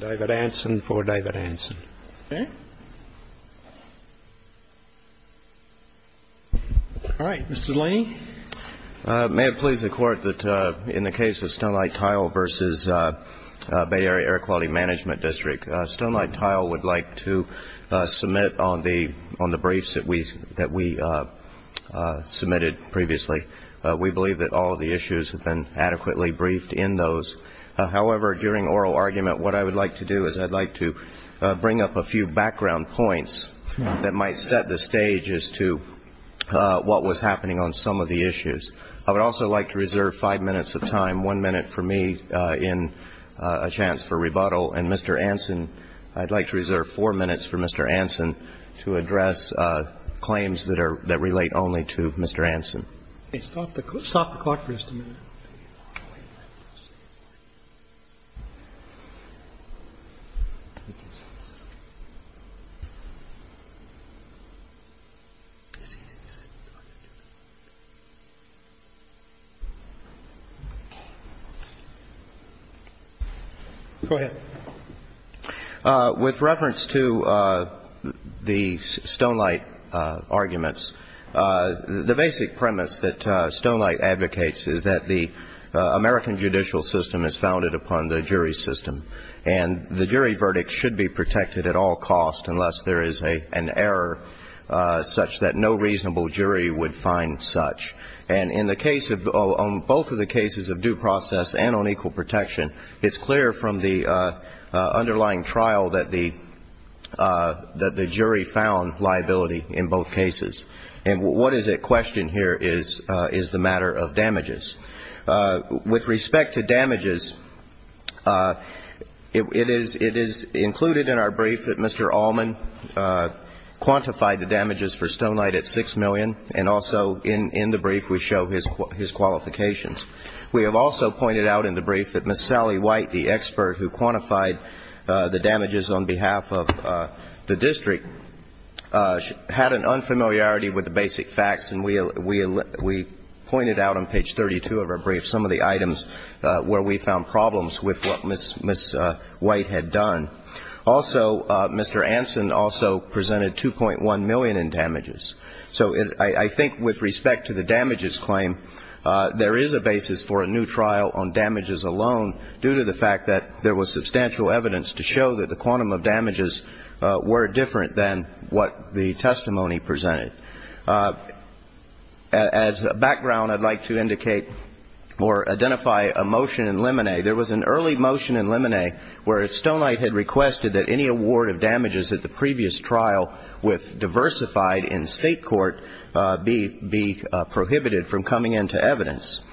David Anson for David Anson. Okay. All right, Mr. Delaney. May it please the Court that in the case of Stonelight Tile v. Bay Area Air Quality Mgmt District, the Stonelight Tile would like to submit on the briefs that we submitted previously. We believe that all of the issues have been adequately briefed in those. However, during oral argument, what I would like to do is I'd like to bring up a few background points that might set the stage as to what was a chance for rebuttal. And, Mr. Anson, I'd like to reserve four minutes for Mr. Anson to address claims that are relate only to Mr. Anson. Stop the Court for just a minute. Go ahead. With reference to the Stonelight arguments, the basic premise that Stonelight advocates is that the American judicial system is founded upon the jury system, and the jury verdict should be protected at all costs unless there is an error such that no reasonable jury would find such. And in the case of both of the cases of due process and on equal protection, it's clear from the underlying trial that the jury found liability in both cases. And what is at question here is the matter of damages. With respect to damages, it is included in our brief that Mr. Allman quantified the damages for the district. We have also pointed out in the brief that Ms. Sally White, the expert who quantified the damages on behalf of the district, had an unfamiliarity with the basic facts, and we pointed out on page 32 of our brief some of the items where we found problems with what Ms. White had done. Also, Mr. Anson also presented $2.1 million in damages. So I think with respect to the damages claim, there is no doubt that Mr. Allman quantified the damages for the district. There is a basis for a new trial on damages alone due to the fact that there was substantial evidence to show that the quantum of damages were different than what the testimony presented. As a background, I'd like to indicate or identify a motion in limine. There was an early motion in limine where Stonelight had requested that any award of damages at the previous trial with diversified in state court be prohibited from coming into evidence.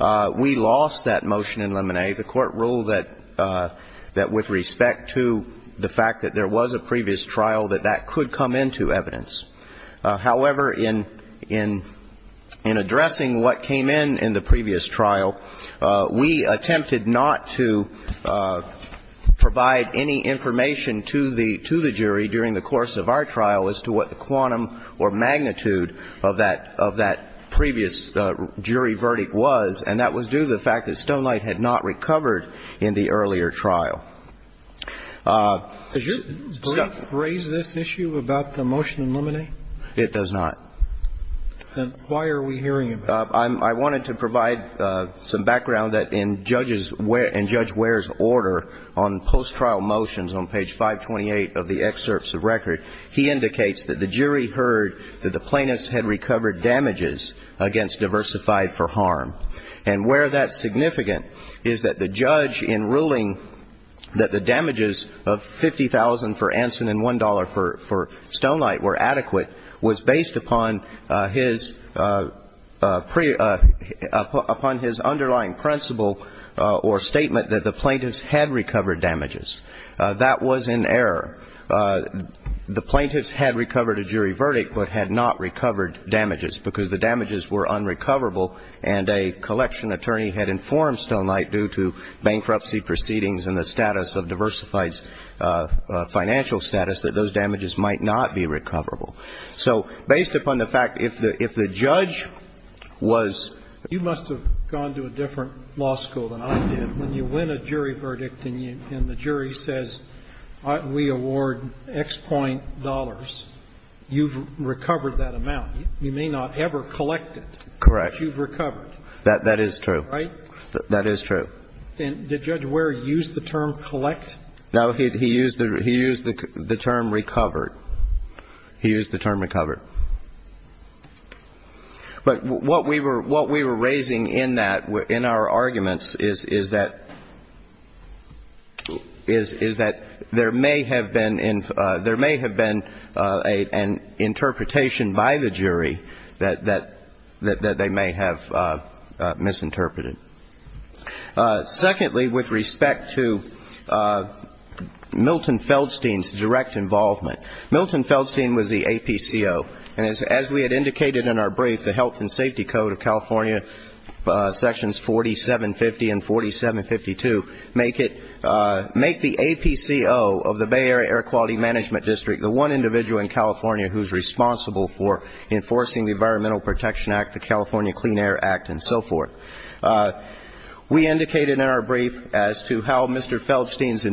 We lost that motion in limine. The court ruled that with respect to the fact that there was a previous trial, that that could come into evidence. However, in addressing what came in in the previous trial, we attempted not to provide any evidence to the court, and that was due to the fact that Stonelight had not recovered in the earlier trial. Did your brief raise this issue about the motion in limine? It does not. Then why are we hearing about it? I wanted to provide some background that in Judge Ware's order on post-trial motions on page 528 of the excerpts of record, he indicates that the jury heard that the plaintiffs had recovered damages against diversified for harm. And where that's significant is that the judge, in ruling that the damages of $50,000 for Anson and $1 for Stonelight were adequate, was based upon his underlying principle or statement that the plaintiffs had recovered damages. That was in error. The plaintiffs had recovered damages against diversified for harm. They had recovered a jury verdict, but had not recovered damages, because the damages were unrecoverable, and a collection attorney had informed Stonelight, due to bankruptcy proceedings and the status of diversified's financial status, that those damages might not be recoverable. So based upon the fact, if the judge was ---- You must have gone to a different law school than I did. When you win a jury verdict and the jury says, we award X point dollars, you've recovered that amount, you may not ever collect it. Correct. Because you've recovered. That is true. Right? That is true. And did Judge Ware use the term collect? No, he used the term recovered. He used the term recovered. But what we were raising in our arguments is that there may have been an increase in the amount of damages that the jury had recovered against diversified for harm. And interpretation by the jury that they may have misinterpreted. Secondly, with respect to Milton Feldstein's direct involvement, Milton Feldstein was the APCO, and as we had indicated in our brief, the Health and Safety Code of California, sections 4750 and 4752, make the APCO of the Bay Area Air Quality Management District the one individual in California that is responsible for enforcing the Environmental Protection Act, the California Clean Air Act, and so forth. We indicated in our brief as to how Mr. Feldstein's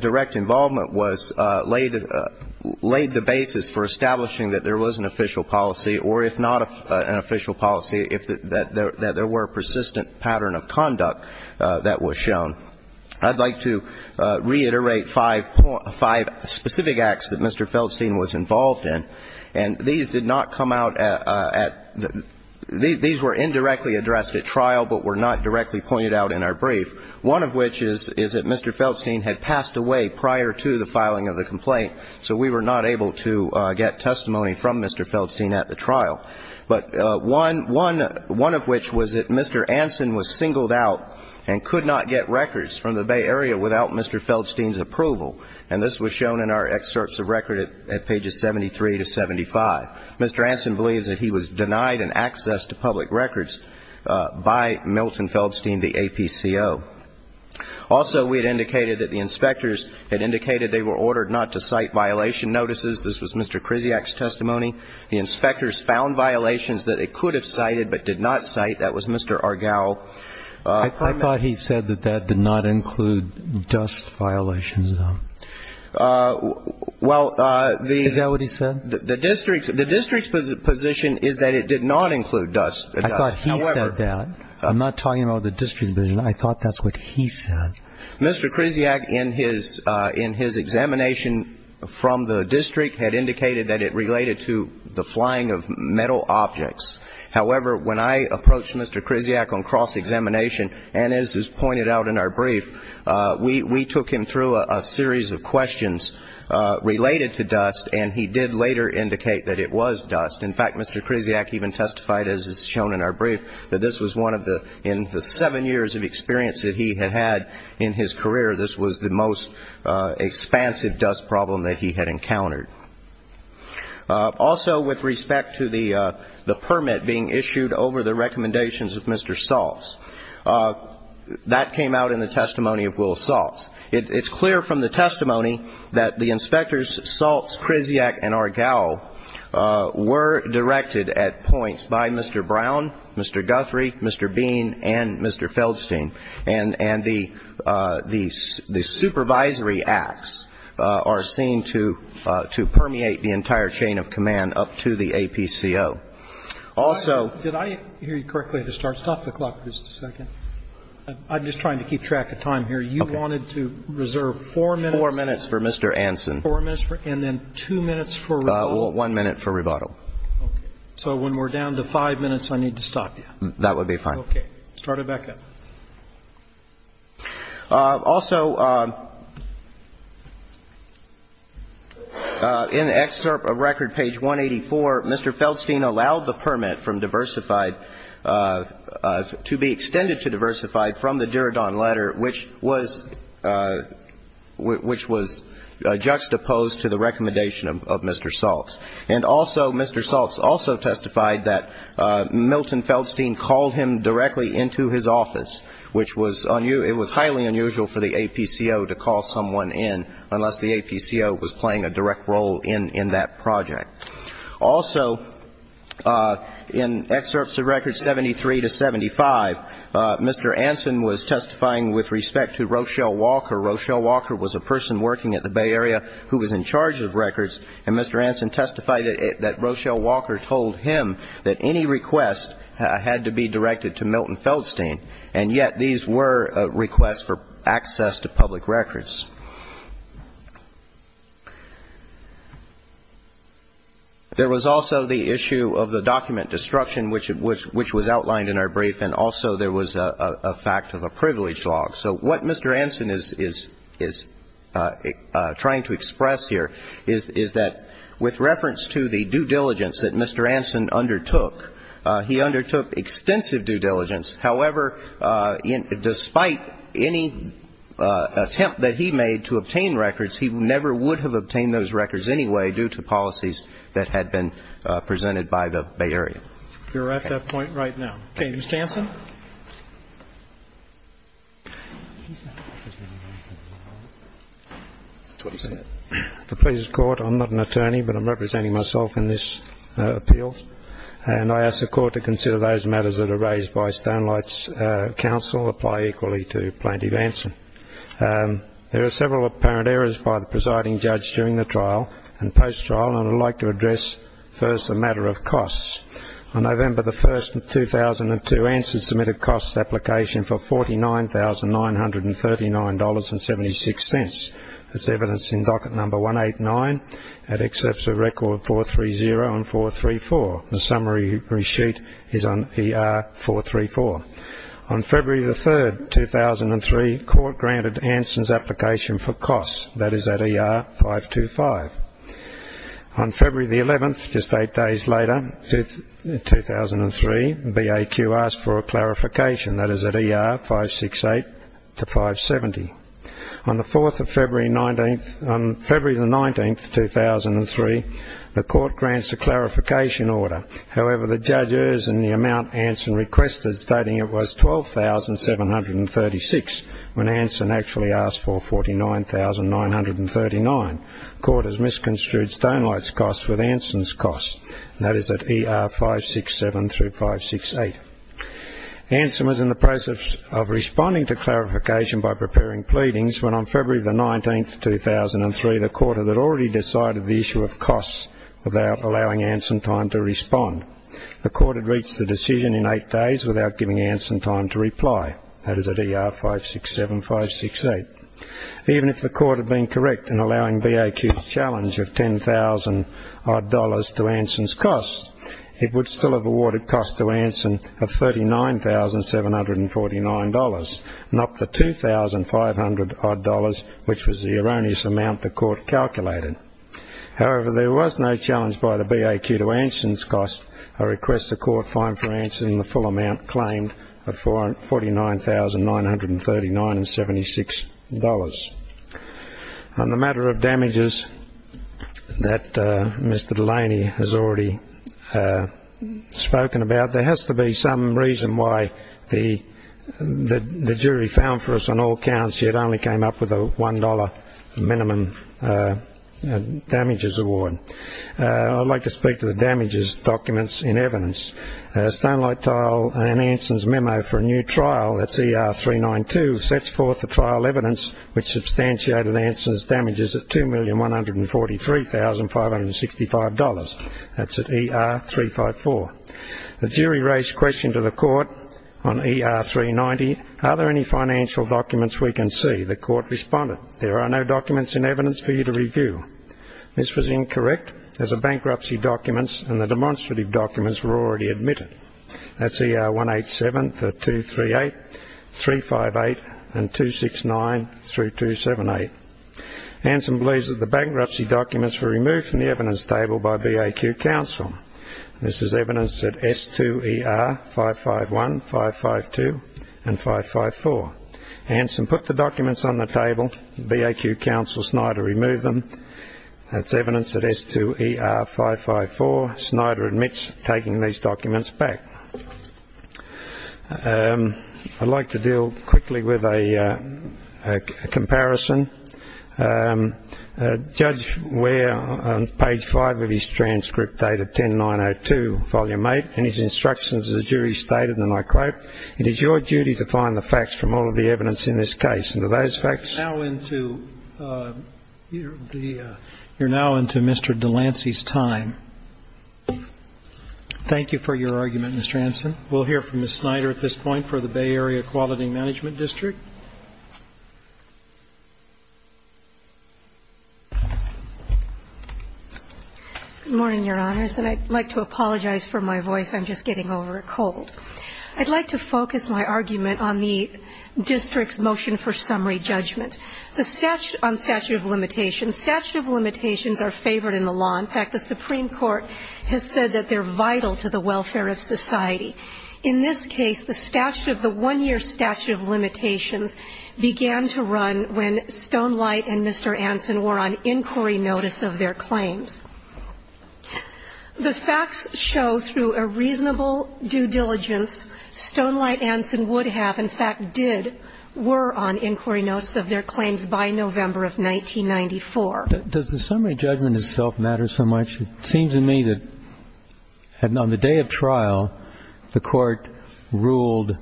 direct involvement was ---- laid the basis for establishing that there was an official policy, or if not an official policy, that there were persistent pattern of conduct that was shown. I'd like to reiterate five specific acts that Mr. Feldstein was involved in. And these did not come out at ---- these were indirectly addressed at trial, but were not directly pointed out in our brief. One of which is that Mr. Feldstein had passed away prior to the filing of the complaint, so we were not able to get testimony from Mr. Feldstein at the trial. But one of which was that Mr. Anson was singled out and could not get records from the Bay Area without Mr. Feldstein's approval. And this was shown in our excerpts of record at pages 73 to 75. Mr. Anson believes that he was denied an access to public records by Milton Feldstein, the APCO. Also, we had indicated that the inspectors had indicated they were ordered not to cite violation notices. This was Mr. Kriziak's testimony. The inspectors found violations that they could have cited but did not cite. That was Mr. Argyle. I thought he said that that did not include dust violations. Is that what he said? The district's position is that it did not include dust. I thought he said that. I'm not talking about the district's position. I thought that's what he said. Mr. Kriziak, in his examination from the district, had indicated that it related to the flying of metal objects. However, when I approached Mr. Feldstein about this examination, and as is pointed out in our brief, we took him through a series of questions related to dust, and he did later indicate that it was dust. In fact, Mr. Kriziak even testified, as is shown in our brief, that this was one of the, in the seven years of experience that he had had in his career, this was the most expansive dust problem that he had encountered. Also, with respect to the permit being issued over the recommendations of Mr. Sals, Mr. Sals, Mr. Sals, Mr. Sals, Mr. Sals, Mr. Sals, Mr. Sals, that came out in the testimony of Will Sals. It's clear from the testimony that the inspectors, Sals, Kriziak, and Argyle, were directed at points by Mr. Brown, Mr. Guthrie, Mr. Bean, and Mr. Feldstein, and the supervisory acts are seen to permeate the entire chain of command up to the APCO. And I'm not going to go into the details of the APCO, but I know that Mr. Feldstein and Mr. Kriziak were both in the APCO, and Mr. Feldstein was the supervisor of the APCO, and Mr. Feldstein was the supervisor of the APCO. Also, did I hear you correctly at the start? Stop the clock for just a second. I'm just trying to keep track of time here. You wanted to reserve four minutes for Mr. Anson. Four minutes for Mr. Anson. Also, in the excerpt of record, page 184, Mr. Feldstein allowed the permit from Diversified to be extended to Diversified from the Duradon letter, which was juxtaposed to the recommendation of Mr. Saltz. And also, Mr. Saltz also testified that Milton Feldstein called him directly into his office, which was highly unusual for the APCO to call someone in unless the APCO was playing a direct role in that project. Also, in excerpts of records 73 to 75, Mr. Anson was testifying with respect to Rochelle Walker. Rochelle Walker was a person working at the Bay Area who was in charge of records, and Mr. Anson testified that Rochelle Walker told him that any request had to be directed to Milton Feldstein, and yet these were requests for access to public records. There was also the issue of the document destruction, which was outlined in our brief, and also there was a fact of a privilege log. So what Mr. Anson is trying to express here is that with reference to the due diligence that Mr. Anson undertook, he undertook extensive due diligence. However, despite any attempt that he made to obtain records, he never would have obtained those records anyway due to policies that had been presented by the Bay Area. We're at that point right now. Okay. Mr. Anson. Mr. Anson. The pleas of court, I'm not an attorney, but I'm representing myself in this appeal, and I ask the court to consider those matters that are raised by Stonelight's counsel, apply equally to Plaintiff Anson. There are several apparent errors by the presiding judge during the trial and post-trial, and I'd like to address first the matter of costs. On November 1, 2002, Anson submitted costs application for $49,939.76. That's evidence in docket number 189 at excerpts of record 430 and 434. The summary reshoot is on ER 434. On February 3, 2003, court granted Anson's application for costs. That is at ER 525. On February 11, just eight days later, in 2003, BAQ asked for a clarification. That is at ER 568 to 570. On February 19, 2003, the court grants a clarification order. However, the judge errs in the amount Anson requested, stating it was $12,736 when Anson actually asked for $49,939. Court has misconstrued Stonelight's costs with Anson's costs. That is at ER 567 through 568. Anson was in the process of responding to clarification by preparing pleadings when on February 19, 2003, the court had already decided the issue of costs without allowing Anson time to respond. The court had reached the decision in eight days without giving Anson time to reply. That is at ER 567, 568. Even if the court had been correct in allowing BAQ's challenge of $10,000 odd to Anson's costs, it would still have awarded costs to Anson of $39,749, not the $2,500 odd, which was the erroneous amount the court calculated. However, there was no challenge by the BAQ to Anson's costs. I request the court find for Anson the full amount claimed of $49,939.76. On the matter of damages that Mr Delaney has already spoken about, there has to be some reason why the jury found for us on all counts he had only come up with a $1 minimum damages award. I'd like to speak to the damages documents in evidence. Stonelight Tile and Anson's memo for a new trial, that's ER 392, sets forth the trial evidence which substantiated Anson's damages at $2,143,565. That's at ER 354. The jury raised questions to the court on ER 390. Are there any financial documents we can see? The court responded, there are no documents in evidence for you to review. This was incorrect as the bankruptcy documents and the demonstrative documents were already admitted. That's ER 187 for 238, 358 and 269 through 278. Anson believes that the bankruptcy documents were removed from the evidence table by BAQ counsel. This is evidence at S2ER 551, 552 and 554. Anson put the documents on the table. BAQ counsel Snyder removed them. That's evidence at S2ER 554. Snyder admits taking these documents back. I'd like to deal quickly with a comparison. Judge Ware, on page 5 of his transcript dated 10902, volume 8, in his instructions the jury stated, and I quote, It is your duty to find the facts from all of the evidence in this case. And are those facts? You're now into Mr. Delancey's time. Thank you for your argument, Mr. Anson. We'll hear from Ms. Snyder at this point for the Bay Area Equality Management District. Good morning, Your Honors, and I'd like to apologize for my voice. I'm just getting over a cold. I'd like to focus my argument on the district's motion for summary judgment. On statute of limitations, statute of limitations are favored in the law. In fact, the Supreme Court has said that they're vital to the welfare of society. In this case, the statute of the one-year statute of limitations began to run when Stonelight and Mr. Anson were on inquiry notice of their claims. The facts show through a reasonable due diligence, Stonelight, Anson would have, in fact, did, were on inquiry notice of their claims by November of 1994. Does the summary judgment itself matter so much? It seems to me that on the day of trial, the Court ruled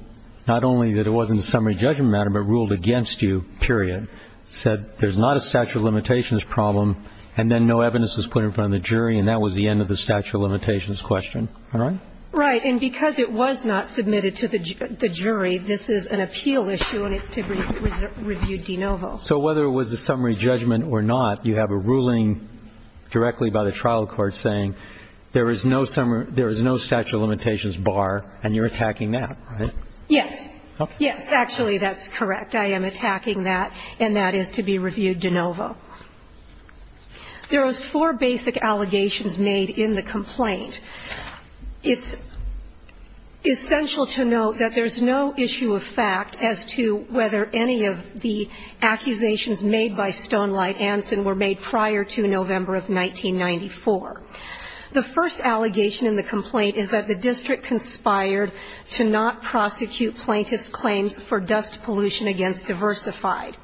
not only that it wasn't a summary judgment matter, but ruled against you, period, said there's not a statute of limitations problem, and then no evidence was put in front of the jury, and that was the end of the statute of limitations question. Am I right? Right. And because it was not submitted to the jury, this is an appeal issue, and it's to be reviewed de novo. So whether it was a summary judgment or not, you have a ruling directly by the trial court saying there is no statute of limitations bar, and you're attacking that, right? Yes. Yes. Actually, that's correct. I am attacking that, and that is to be reviewed de novo. There was four basic allegations made in the complaint. It's essential to note that there's no issue of fact as to whether any of the accusations made by Stonelight Anson were made prior to November of 1994. The first allegation in the complaint is that the district conspired to not prosecute plaintiff's claims for dust pollution against Diversified.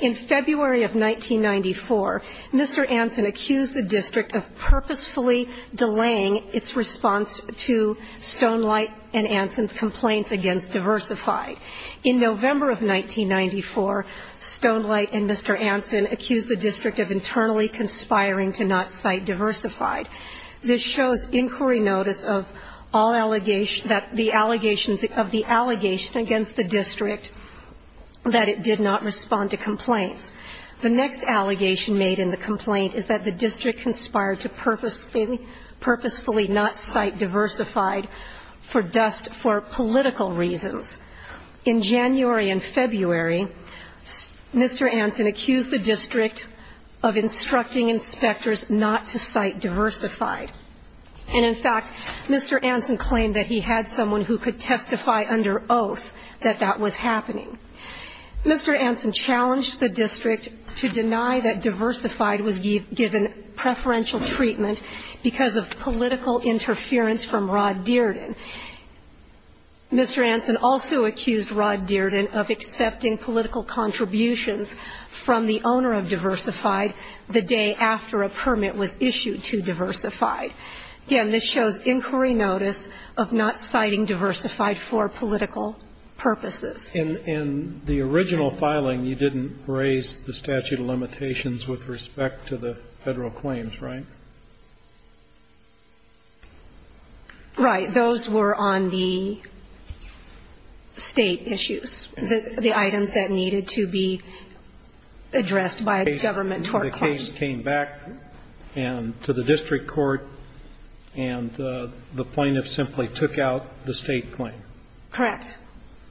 In February of 1994, Mr. Anson accused the district of purposefully delaying its response to Stonelight and Anson's complaints against Diversified. In November of 1994, Stonelight and Mr. Anson accused the district of internally conspiring to not cite Diversified. This shows inquiry notice of all allegations that the allegations of the allegation against the district that it did not respond to complaints. The next allegation made in the complaint is that the district conspired to purposefully not cite Diversified for dust for political reasons. In January and February, Mr. Anson accused the district of instructing inspectors not to cite Diversified. And, in fact, Mr. Anson claimed that he had someone who could testify under oath that that was happening. Mr. Anson challenged the district to deny that Diversified was given preferential treatment because of political interference from Rod Dearden. Mr. Anson also accused Rod Dearden of accepting political contributions from the owner of Diversified the day after a permit was issued to Diversified. Again, this shows inquiry notice of not citing Diversified for political purposes. And in the original filing, you didn't raise the statute of limitations with respect to the Federal claims, right? Right. Those were on the State issues, the items that needed to be addressed by a government tort claim. The case came back and to the district court, and the plaintiff simply took out the State claim. Correct.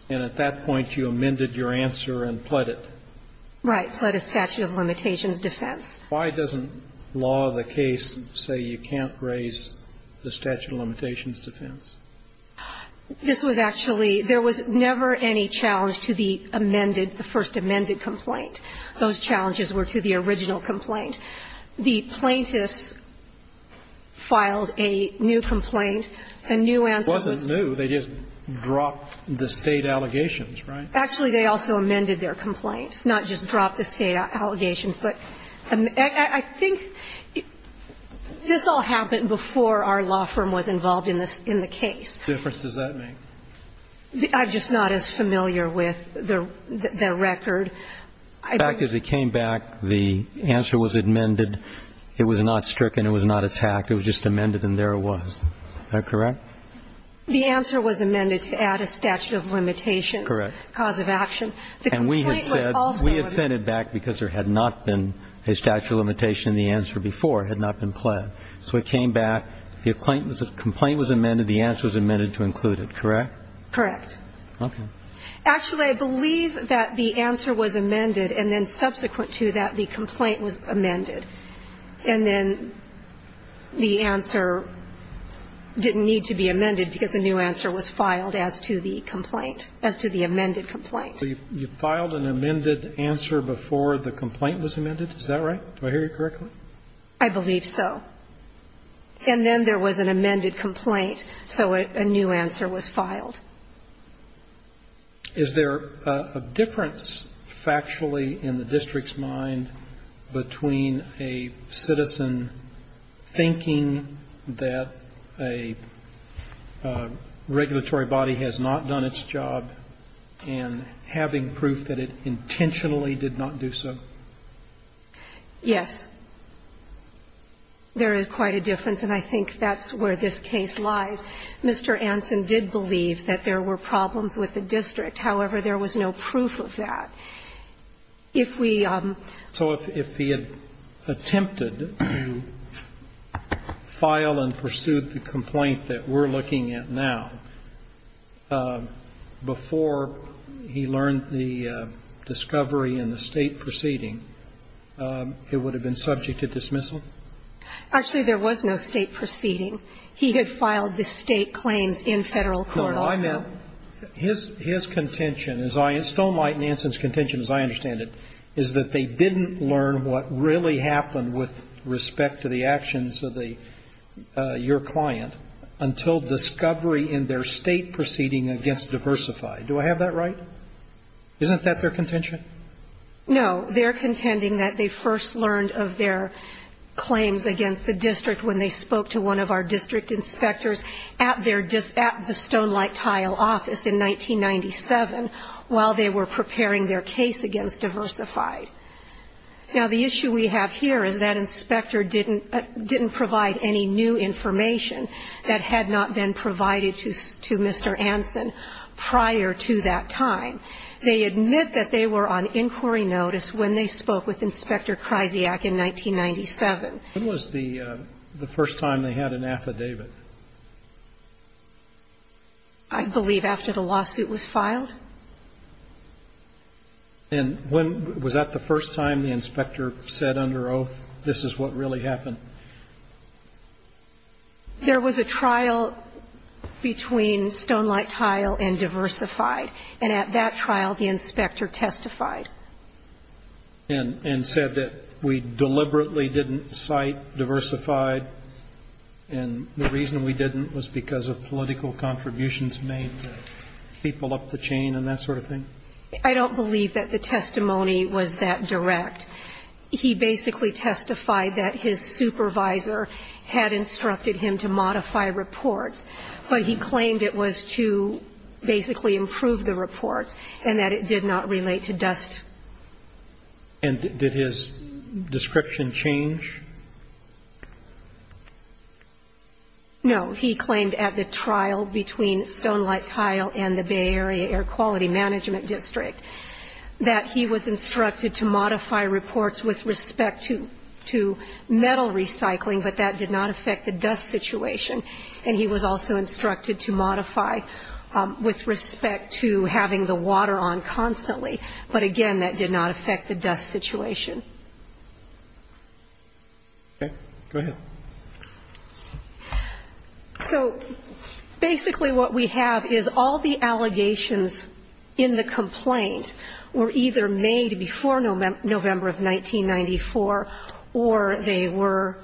And at that point, you amended your answer and pled it. Right. Pled a statute of limitations defense. Why doesn't law of the case say you can't raise the statute of limitations defense? This was actually – there was never any challenge to the amended, the first amended complaint. Those challenges were to the original complaint. The plaintiffs filed a new complaint. A new answer was – It wasn't new. They just dropped the State allegations, right? Actually, they also amended their complaints, not just dropped the State allegations. But I think this all happened before our law firm was involved in the case. The difference does that make? I'm just not as familiar with the record. In fact, as it came back, the answer was amended. It was not stricken. It was not attacked. It was just amended, and there it was. Is that correct? The answer was amended to add a statute of limitations. Correct. Cause of action. And we have sent it back because there had not been a statute of limitation in the answer before. It had not been pled. So it came back. The complaint was amended. The answer was amended to include it. Correct? Correct. Okay. Actually, I believe that the answer was amended, and then subsequent to that, the complaint was amended. And then the answer didn't need to be amended because a new answer was filed as to the complaint, as to the amended complaint. So you filed an amended answer before the complaint was amended? Is that right? Do I hear you correctly? I believe so. And then there was an amended complaint, so a new answer was filed. Is there a difference, factually, in the district's mind between a citizen thinking that a regulatory body has not done its job and having proof that it intentionally did not do so? Yes. There is quite a difference, and I think that's where this case lies. Mr. Anson did believe that there were problems with the district. However, there was no proof of that. So if he had attempted to file and pursue the complaint that we're looking at now before he learned the discovery in the State proceeding, it would have been subject to dismissal? Actually, there was no State proceeding. He had filed the State claims in Federal court also. But his contention, Stonelight Nansen's contention, as I understand it, is that they didn't learn what really happened with respect to the actions of your client until discovery in their State proceeding against Diversify. Do I have that right? Isn't that their contention? No. They're contending that they first learned of their claims against the district when they spoke to one of our district inspectors at the Stonelight Tile office in 1997 while they were preparing their case against Diversify. Now, the issue we have here is that inspector didn't provide any new information that had not been provided to Mr. Anson prior to that time. They admit that they were on inquiry notice when they spoke with Inspector Kryziak in 1997. When was the first time they had an affidavit? I believe after the lawsuit was filed. And when was that the first time the inspector said under oath, this is what really happened? There was a trial between Stonelight Tile and Diversify. And at that trial, the inspector testified. And said that we deliberately didn't cite Diversify, and the reason we didn't was because of political contributions made to people up the chain and that sort of thing? I don't believe that the testimony was that direct. He basically testified that his supervisor had instructed him to modify reports, but he claimed it was to basically improve the reports and that it did not relate to dust. And did his description change? No. He claimed at the trial between Stonelight Tile and the Bay Area Air Quality Management District that he was instructed to modify reports with respect to metal recycling, but that did not affect the dust situation. And he was also instructed to modify with respect to having the water on constantly. But again, that did not affect the dust situation. Okay. Go ahead. So basically what we have is all the allegations in the complaint were either made before November of 1994, or they were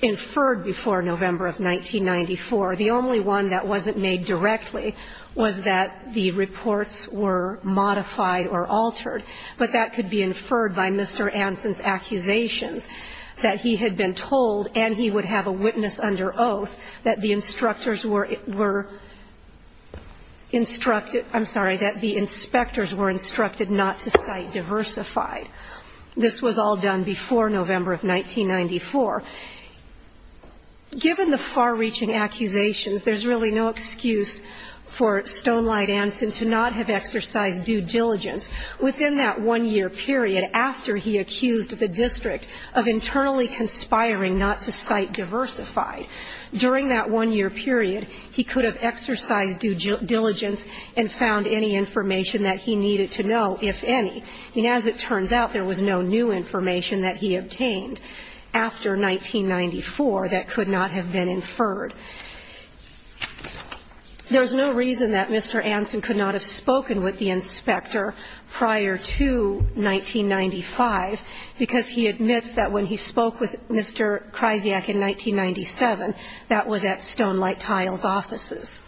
inferred before November of 1994. The only one that wasn't made directly was that the reports were modified or altered, but that could be inferred by Mr. Anson's accusations that he had been told, and he would have a witness under oath, that the instructors were instructed – I'm sorry, that the inspectors were instructed not to cite Diversify. This was all done before November of 1994. Given the far-reaching accusations, there's really no excuse for Stonelight Anson to not have exercised due diligence within that one-year period after he accused the district of internally conspiring not to cite Diversify. During that one-year period, he could have exercised due diligence and found any information that he needed to know, if any. I mean, as it turns out, there was no new information that he obtained after 1994 that could not have been inferred. There's no reason that Mr. Anson could not have spoken with the inspector prior to 1995, because he admits that when he spoke with Mr. Kryziak in 1997, that was at Stonelight Tiles' offices.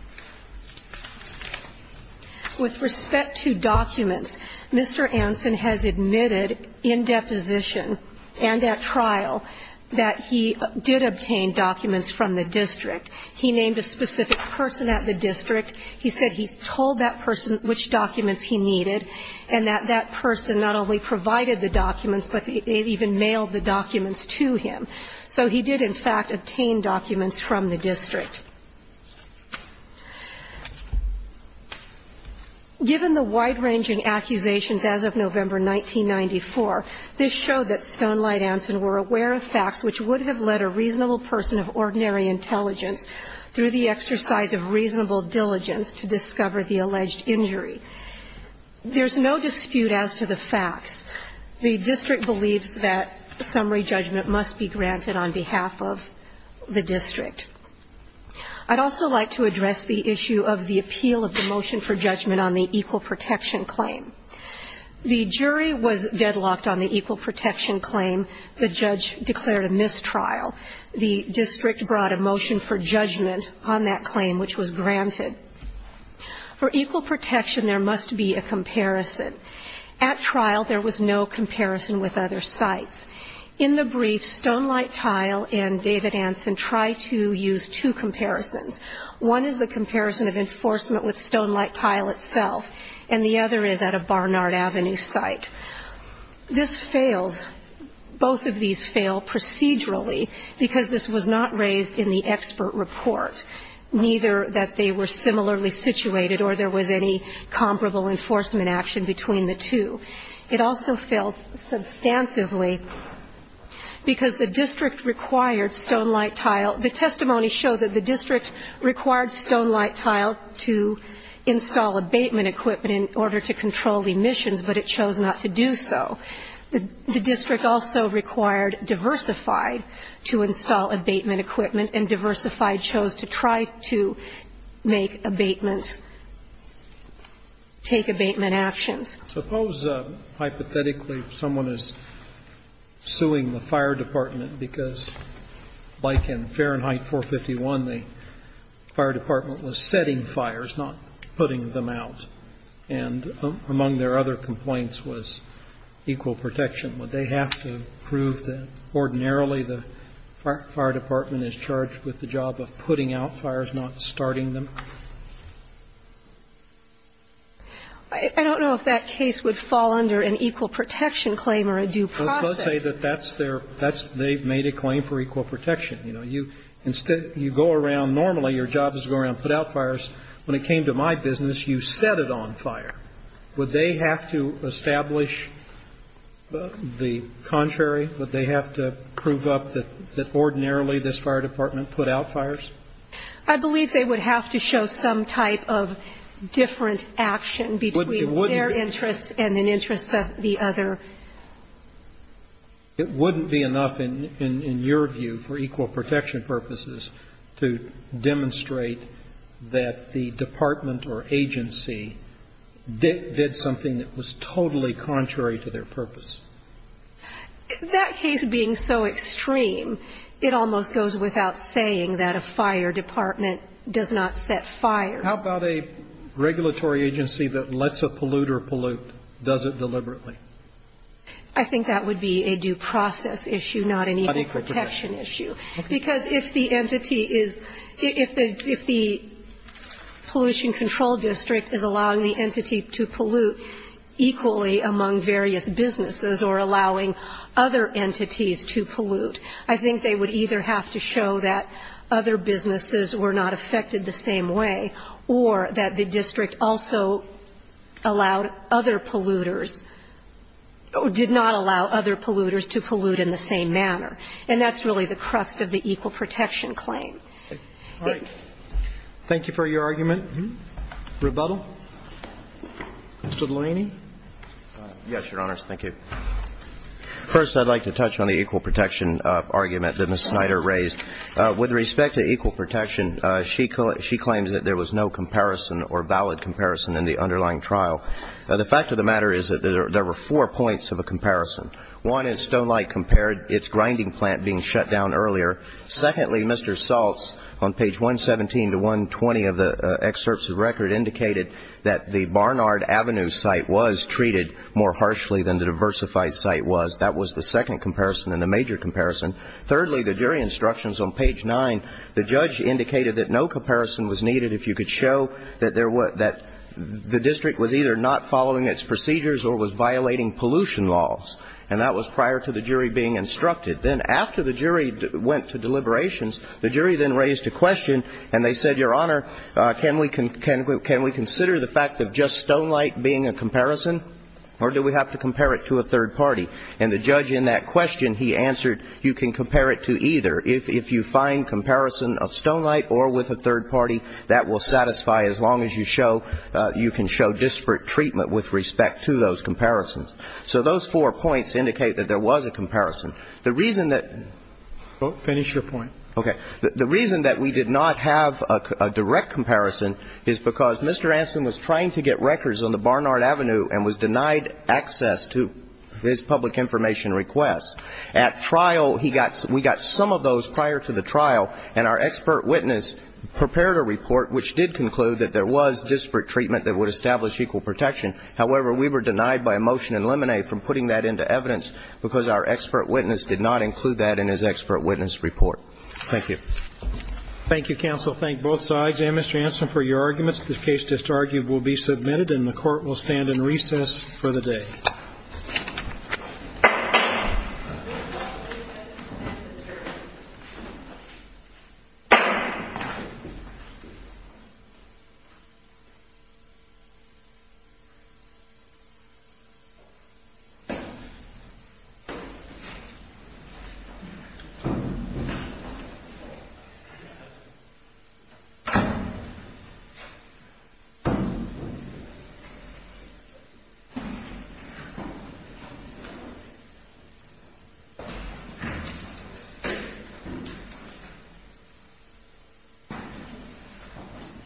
With respect to documents, Mr. Anson has admitted in deposition and at trial that he did obtain documents from the district. He named a specific person at the district. He said he told that person which documents he needed, and that that person not only provided the documents, but they even mailed the documents to him. So he did, in fact, obtain documents from the district. Given the wide-ranging accusations as of November 1994, this showed that Stonelight Anson were aware of facts which would have led a reasonable person of ordinary intelligence, through the exercise of reasonable diligence, to discover the alleged injury. There's no dispute as to the facts. The district believes that summary judgment must be granted on behalf of the district. I'd also like to address the issue of the appeal of the motion for judgment on the equal protection claim. The jury was deadlocked on the equal protection claim. The judge declared a mistrial. The district brought a motion for judgment on that claim, which was granted. For equal protection, there must be a comparison. At trial, there was no comparison with other sites. In the brief, Stonelight Tile and David Anson try to use two comparisons. One is the comparison of enforcement with Stonelight Tile itself, and the other is at a fair level of comparison. The district's testimony fails substantially because this was not raised in the expert report, neither that they were similarly situated or there was any comparable enforcement action between the two. It also fails substantively because the district required Stonelight Tile. The testimony showed that the district required Stonelight Tile to install abatement equipment in order to control emissions, but it chose not to do so. The district also required Diversified to install abatement equipment, and Diversified chose to try to make abatement, take abatement actions. Suppose, hypothetically, someone is suing the fire department because, like in Fahrenheit 451, the fire department was setting fires, not putting them out, and among their other complaints was equal protection. Would they have to prove that ordinarily the fire department is charged with the job of putting out fires, not starting them? I don't know if that case would fall under an equal protection claim or a due process. Let's say that that's their – they've made a claim for equal protection. You know, you go around normally, your job is to go around and put out fires. When it came to my business, you set it on fire. Would they have to establish the contrary? Would they have to prove up that ordinarily this fire department put out fires? I believe they would have to show some type of different action between their interests and an interest of the other. It wouldn't be enough, in your view, for equal protection purposes to demonstrate that the department or agency did something that was totally contrary to their purpose. That case being so extreme, it almost goes without saying that a fire department does not set fires. How about a regulatory agency that lets a polluter pollute, does it deliberately? I think that would be a due process issue, not an equal protection issue. Because if the entity is – if the pollution control district is allowing the entity to pollute equally among various businesses or allowing other entities to pollute, I think they would either have to show that other businesses were not affected the same way or that the district also allowed other polluters – did not allow other polluters to pollute in the same manner. And that's really the crux of the equal protection claim. Roberts. Thank you for your argument. Rebuttal. Mr. Delaney. Yes, Your Honors. Thank you. First, I'd like to touch on the equal protection argument that Ms. Snyder raised. With respect to equal protection, she claims that there was no comparison or valid comparison in the underlying trial. The fact of the matter is that there were four points of a comparison. One is Stonelight compared its grinding plant being shut down earlier. Secondly, Mr. Saltz, on page 117 to 120 of the excerpts of the record, indicated that the Barnard Avenue site was treated more harshly than the diversified site was. That was the second comparison and the major comparison. Thirdly, the jury instructions on page 9, the judge indicated that no comparison was needed if you could show that the district was either not following its procedures or was violating pollution laws. And that was prior to the jury being instructed. Then after the jury went to deliberations, the jury then raised a question and they said, Your Honor, can we consider the fact of just Stonelight being a comparison or do we have to compare it to a third party? And the judge in that question, he answered, you can compare it to either. If you find comparison of Stonelight or with a third party, that will satisfy as long as you show you can show disparate treatment with respect to those comparisons. So those four points indicate that there was a comparison. The reason that we did not have a direct comparison is because Mr. Anson was trying to get records on the Barnard Avenue and was denied access to his public information requests. At trial, we got some of those prior to the trial, and our expert witness prepared a report which did conclude that there was disparate treatment that would establish equal protection. However, we were denied by a motion in Lemonade from putting that into evidence because our expert witness did not include that in his expert witness report. Thank you. Thank you, counsel. Thank both sides and Mr. Anson for your arguments. The case disargued will be submitted and the court will stand in recess for the day. Thank you.